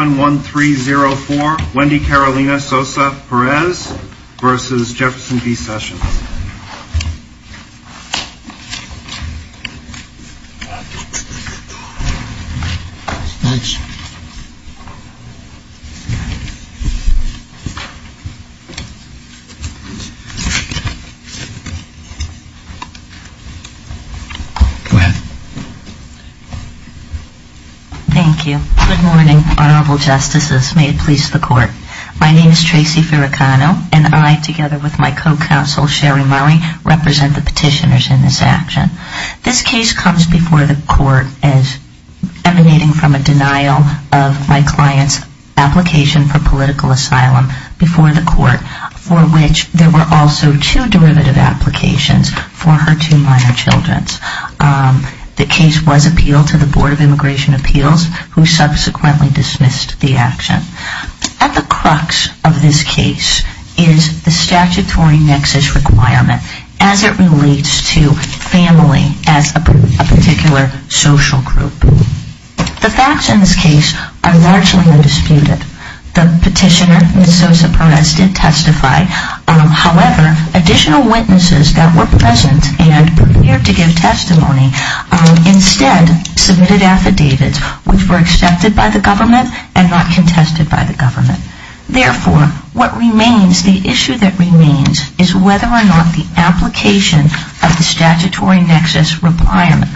71304 Wendy Carolina Sosa-Perez v. Jefferson B. Sessions Good morning, Honorable Justices. May it please the Court. My name is Tracy Ferricano, and I, together with my co-counsel Sherry Murray, represent the petitioners in this action. This case comes before the Court emanating from a denial of my client's application for political asylum before the Court, for which there were also two derivative applications for her two minor children. The case was appealed to the Board of Immigration Appeals, who subsequently dismissed the action. At the crux of this case is the statutory nexus requirement as it relates to family as a particular social group. The facts in this case are largely undisputed. The petitioner, Ms. Sosa-Perez, did testify. However, additional witnesses that were present and prepared to give testimony instead submitted affidavits, which were accepted by the government and not contested by the government. Therefore, what remains, the issue that remains is whether or not the application of the statutory nexus requirement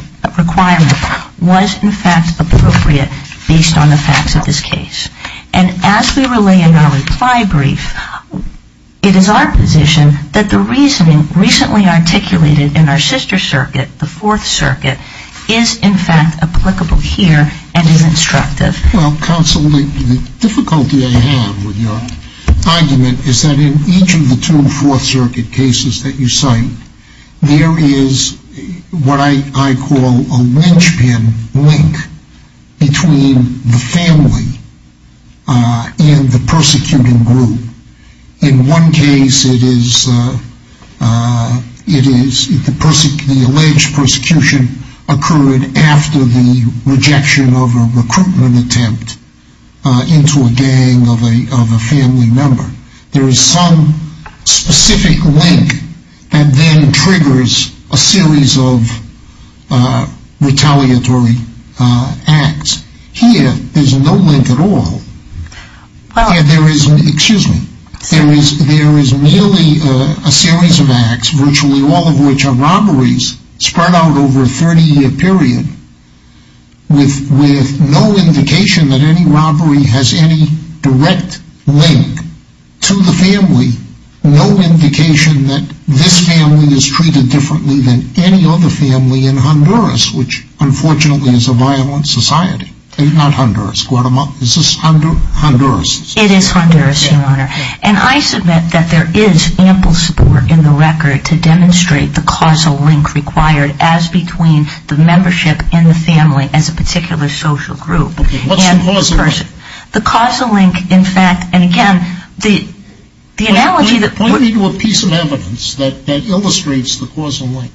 was in fact appropriate based on the facts of this case. And as we relay in our reply brief, it is our position that the reasoning recently articulated in our sister circuit, the Fourth Circuit case, is correct. Well, counsel, the difficulty I have with your argument is that in each of the two Fourth Circuit cases that you cite, there is what I call a linchpin link between the family and the persecuting group. In one case, it is, it is the alleged persecution occurred after the rejection of a recruitment attempt into a gang of a family member. There is some specific link that then triggers a series of retaliatory acts. Here, there is no link at all. There is, excuse me, there is merely a series of acts, virtually all of which are with, with no indication that any robbery has any direct link to the family, no indication that this family is treated differently than any other family in Honduras, which unfortunately is a violent society. It is not Honduras, Guatemala. This is Honduras. It is Honduras, Your Honor. And I submit that there is ample support in the record to demonstrate the causal link required as between the membership and the family as a particular social group. Okay, what's the causal link? The causal link, in fact, and again, the, the analogy that Point me to a piece of evidence that, that illustrates the causal link.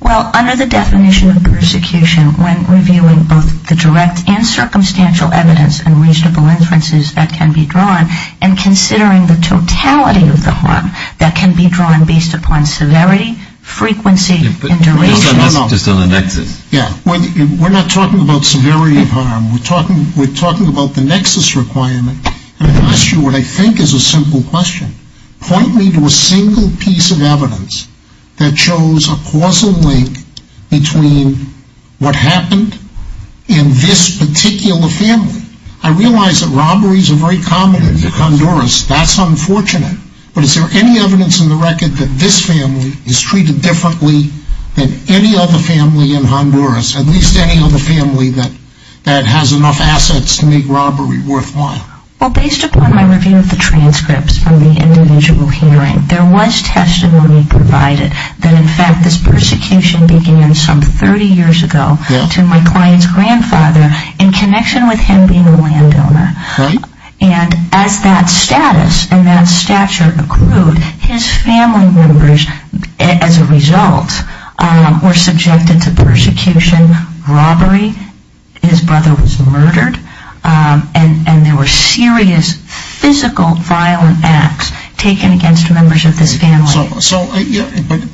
Well, under the definition of persecution, when reviewing both the direct and circumstantial evidence and reasonable inferences that can be drawn, and considering the totality of the harm, that can be drawn based upon severity, frequency, and duration. Just on the nexus. Yeah, we're not talking about severity of harm. We're talking, we're talking about the nexus requirement. And I ask you what I think is a simple question. Point me to a single piece of evidence that shows a causal link between what happened in this particular family. I realize that robberies are very common in Honduras. That's unfortunate. But is there any evidence in the record that this family is treated differently than any other family in Honduras? At least any other family that, that has enough assets to make robbery worthwhile? Well, based upon my review of the transcripts from the individual hearing, there was testimony provided that, in fact, this persecution began some 30 years ago to my client's grandfather in connection with him being a landowner. And as that status and that stature accrued, his family members, as a result, were subjected to persecution, robbery, his brother was murdered, and there were serious physical violent acts taken against members of this family.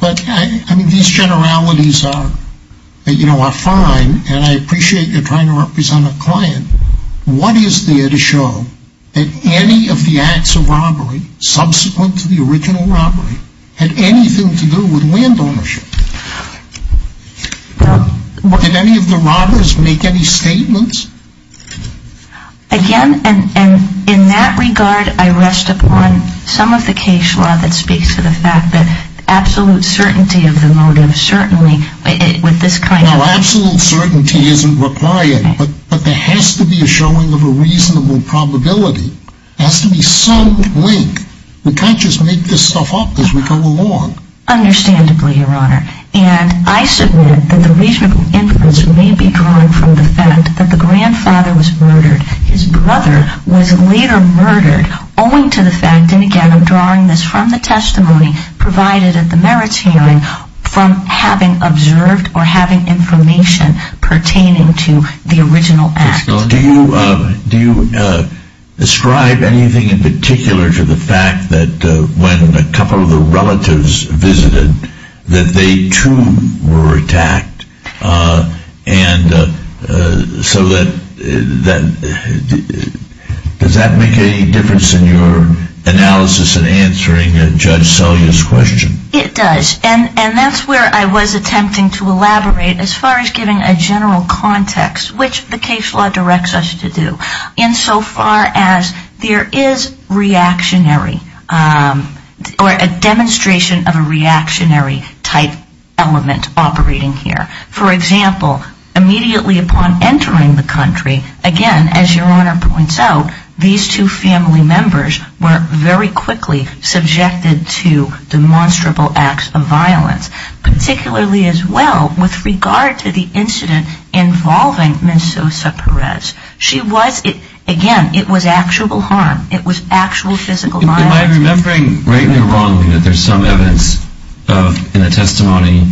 But, I mean, these generalities are, you know, are fine, and I appreciate you're trying to represent a client. What is there to show that any of the acts of robbery subsequent to the original robbery had anything to do with land ownership? Did any of the robbers make any statements? Again, and in that regard, I rest upon some of the case law that speaks to the fact that absolute certainty of the motive, certainly, with this kind of... No, absolute certainty isn't required, but there has to be a showing of a reasonable probability. There has to be some link. We can't just make this stuff up as we go along. Understandably, Your Honor. And I submit that the reasonable inference may be drawn from the fact that the grandfather was murdered. His brother was later murdered, owing to the fact, and again, I'm drawing this from the testimony provided at the merits hearing, from having observed or having information pertaining to the original act. Do you describe anything in particular to the fact that when a couple of the relatives visited, that they too were attacked? And so that... Does that make any difference in your analysis in answering Judge Selya's question? It does, and that's where I was attempting to elaborate as far as giving a general context, which the case law directs us to do, insofar as there is reactionary or a demonstration of a reactionary type element operating here. For example, immediately upon entering the country, again, as Your Honor points out, these two family members were very quickly subjected to demonstrable acts of violence, particularly as well with regard to the incident involving Ms. Sosa Perez. She was, again, it was actual harm. It was actual physical violence. Am I remembering rightly or wrongly that there's some evidence in the testimony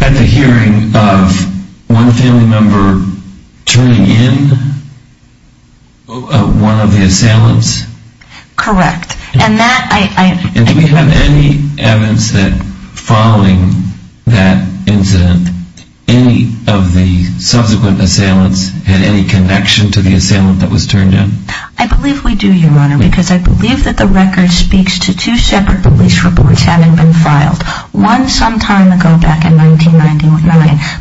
at the hearing of one family member turning in one of the assailants? Correct. And that I... And do we have any evidence that following that incident, any of the subsequent assailants had any connection to the assailant that was turned in? I believe we do, Your Honor, because I believe that the record speaks to two separate police reports having been filed, one some time ago back in 1999,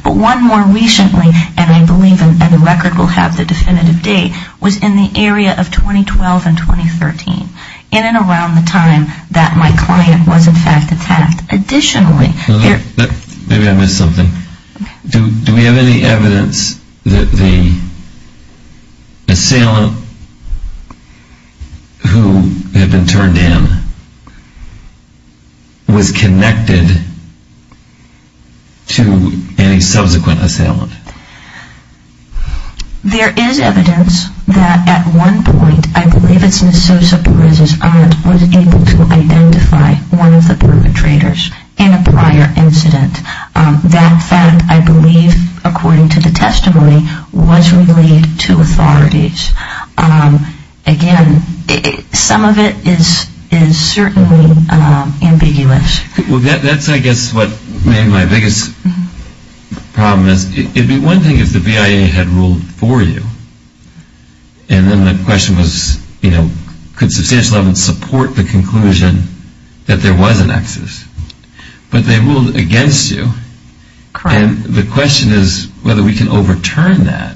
but one more recently, and I believe the record will have the definitive date, was in the area of 2012 and 2013, in around the time that my client was in fact attacked. Additionally... Maybe I missed something. Do we have any evidence that the assailant who had been turned in was connected to any subsequent assailant? There is evidence that at one point, I believe it's Ms. Sosa Perez's aunt, was able to identify one of the perpetrators in a prior incident. That fact, I believe, according to the testimony, was relayed to authorities. Again, some of it is certainly ambiguous. Well, that's, I guess, what made my biggest problem is, it would be one thing if the BIA had ruled for you, and then the question was, you know, could substantial evidence support the conclusion that there was an excess? But they ruled against you. Correct. And the question is whether we can overturn that.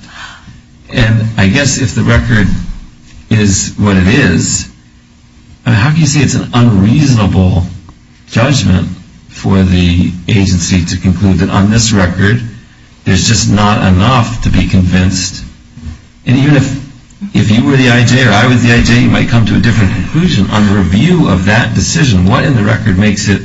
And I guess if the record is what it is, how can you say it's an unreasonable judgment for the agency to conclude that on this record, there's just not enough to be convinced? And even if you were the IJ or I was the IJ, you might come to a different conclusion. On the review of that decision, what in the record makes it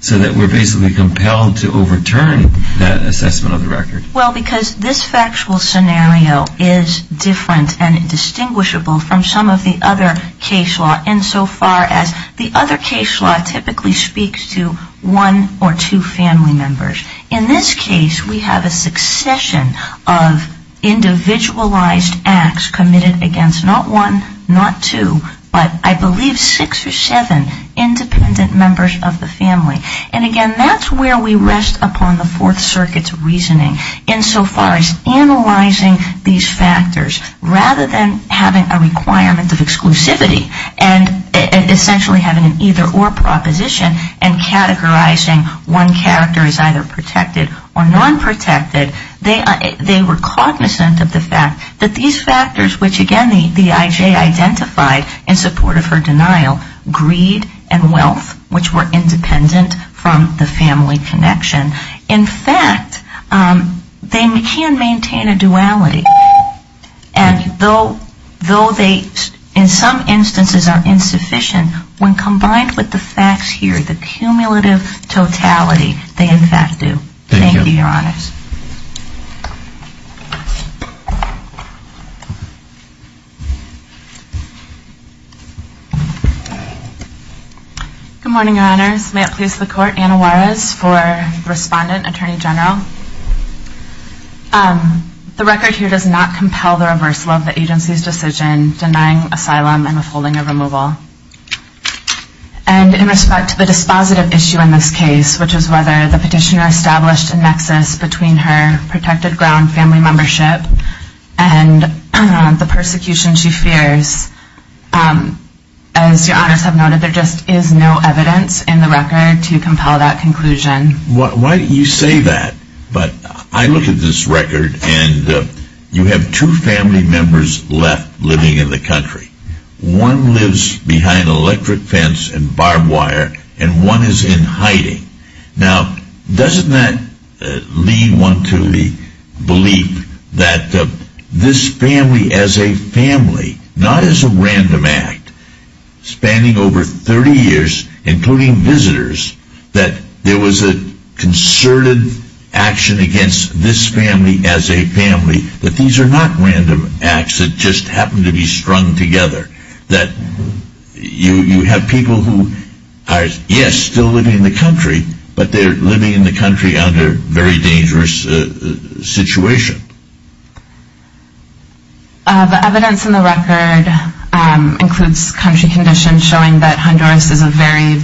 so that we're basically compelled to overturn that assessment of the record? Well, because this factual scenario is different and distinguishable from some of the other case law insofar as the other case law typically speaks to one or two family members. In this case, we have a succession of individualized acts committed against not one, not two, but I believe six or seven independent members of the family. And again, that's where we insofar as analyzing these factors rather than having a requirement of exclusivity and essentially having an either or proposition and categorizing one character as either protected or non-protected, they were cognizant of the fact that these factors, which again the IJ identified in support of her denial, greed and wealth, which were independent from the IJ, they can maintain a duality. And though they in some instances are insufficient, when combined with the facts here, the cumulative totality, they in fact do. Thank you, Your Honors. Thank you. Good morning, Your Honors. May it please the Court, Anna Juarez for Respondent, Attorney General. The record here does not compel the reversal of the agency's decision denying asylum and withholding of removal. And in respect to the dispositive issue in this case, which is whether the petitioner established a nexus between her protected ground family membership and the persecution she fears, as Your Honors have noted, there just is no evidence in the record to compel that conclusion. Why don't you say that? But I look at this record and you have two family members left living in the country. One lives behind an electric fence and barbed wire and one is in hiding. Now, doesn't that lead one to the belief that this family as a family, not as a family, but these are not random acts that just happen to be strung together? That you have people who are, yes, still living in the country, but they're living in the country under very dangerous situation? The evidence in the record includes country conditions showing that Honduras is a very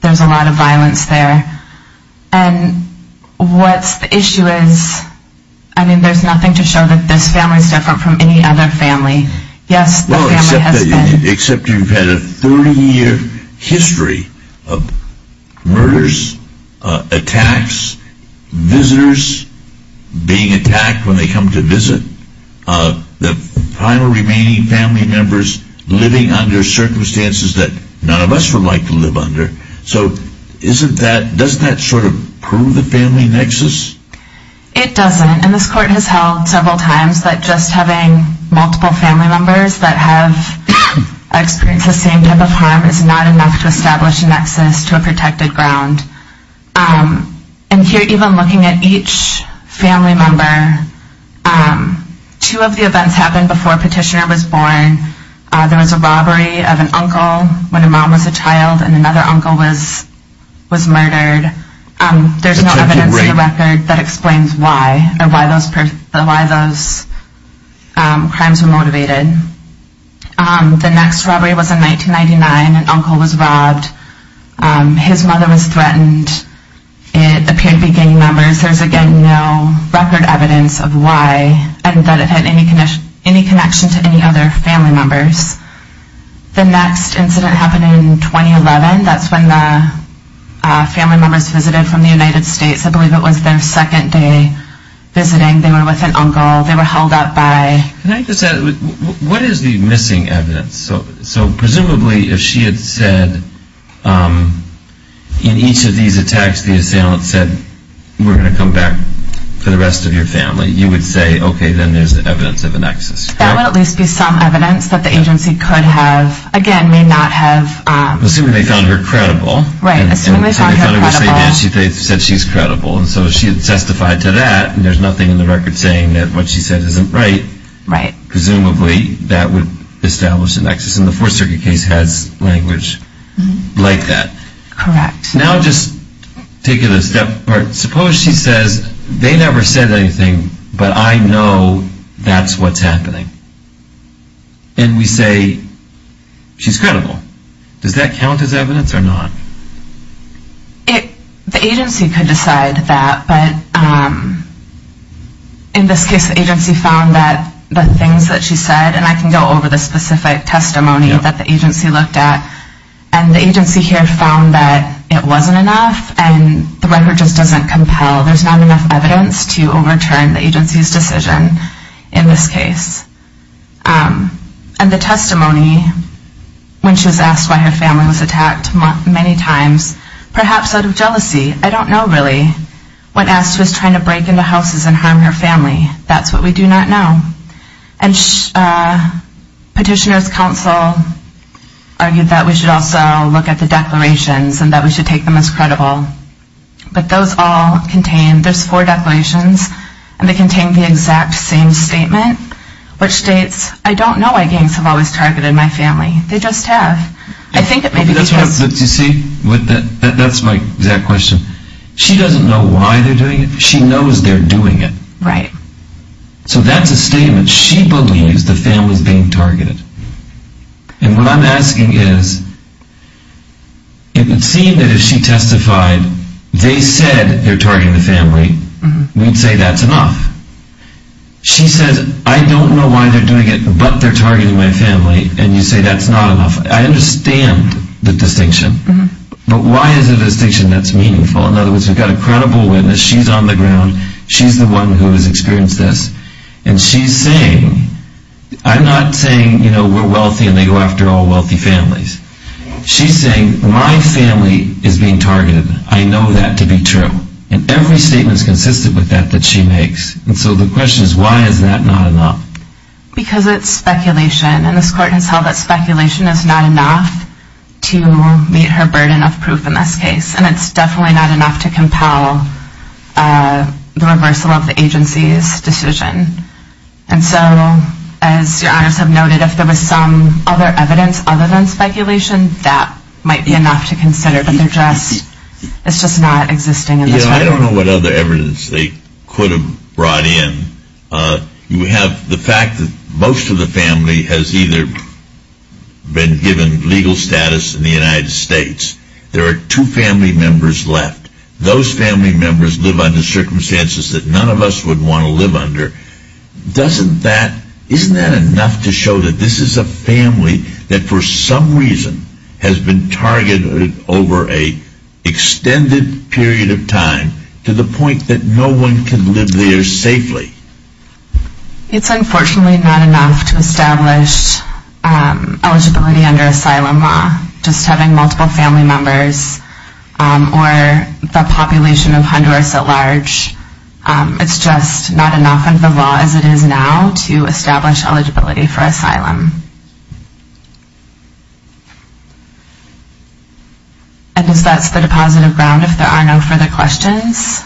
there's a lot of violence there. And what's the issue is, I mean, there's nothing to show that this family is different from any other family. Yes, the family has been. Except you've had a 30-year history of murders, attacks, visitors being attacked when they none of us would like to live under. So doesn't that sort of prove the family nexus? It doesn't. And this court has held several times that just having multiple family members that have experienced the same type of harm is not enough to establish a nexus to a protected ground. And here, even looking at each family member, two of the events happened before when a mom was a child and another uncle was murdered. There's no evidence in the record that explains why or why those crimes were motivated. The next robbery was in 1999. An uncle was robbed. His mother was threatened. It appeared to be gang members. There's, again, no record evidence of why and that it had any connection to any other family members. The next incident happened in 2011. That's when the family members visited from the United States. I believe it was their second day visiting. They were with an uncle. They were held up by... Can I just ask, what is the missing evidence? So presumably if she had said in each of these attacks the assailant said, we're going to come back for the rest of your family, you would say, okay, then there's evidence of a nexus. That would at least be some evidence that the agency could have, again, may not have... Assuming they found her credible. Right. Assuming they found her credible. Assuming they found her credible. And so she had testified to that and there's nothing in the record saying that what she said isn't right. Right. Presumably that would establish a nexus. And the Fourth Circuit case has language like that. Correct. Now just take it a step further. Suppose she says, they never said anything, but I know that's what's happening. And we say, she's credible. Does that count as evidence or not? The agency could decide that, but in this case the agency found that the things that she said, and I can go over the specific testimony that the agency looked at, and the agency here found that it wasn't enough and the record just doesn't compel, there's not enough evidence to overturn the agency's decision in this case. And the testimony, when she was asked why her family was attacked many times, perhaps out of jealousy, I don't know really, when asked was trying to break into houses and harm her family. That's what we do not know. And Petitioner's Counsel argued that we should also look at the declarations and that we contain the exact same statement, which states, I don't know why gangs have always targeted my family. They just have. That's my exact question. She doesn't know why they're doing it. She knows they're doing it. Right. So that's a statement. She believes the family's being targeted. And what I'm asking is, it says they're targeting the family. We'd say that's enough. She says, I don't know why they're doing it, but they're targeting my family. And you say that's not enough. I understand the distinction. But why is it a distinction that's meaningful? In other words, we've got a credible witness. She's on the ground. She's the one who has experienced this. And she's saying, I'm not saying, you know, we're wealthy and they go after all wealthy families. She's saying, my family is being targeted. I know that to be true. And every statement is consistent with that that she makes. And so the question is, why is that not enough? Because it's speculation. And this Court has held that speculation is not enough to meet her burden of proof in this case. And it's definitely not enough to compel the reversal of the agency's decision. And so, as Your Honors have noted, if there was some other evidence other than speculation, that might be enough to consider. But it's just not existing in this record. Yeah, I don't know what other evidence they could have brought in. We have the fact that most of the family has either been given legal status in the United States. There are two family members left. Those family members live under circumstances that none of us would want to live under. Doesn't that, isn't that enough to show that this is a family that for some reason has been targeted over an extended period of time to the point that no one can live there safely? It's unfortunately not enough to establish eligibility under asylum law. Just having multiple family members or the population of Honduras at large, it's just not enough under the law as it is now to establish eligibility for asylum. And I guess that's the depositive ground if there are no further questions.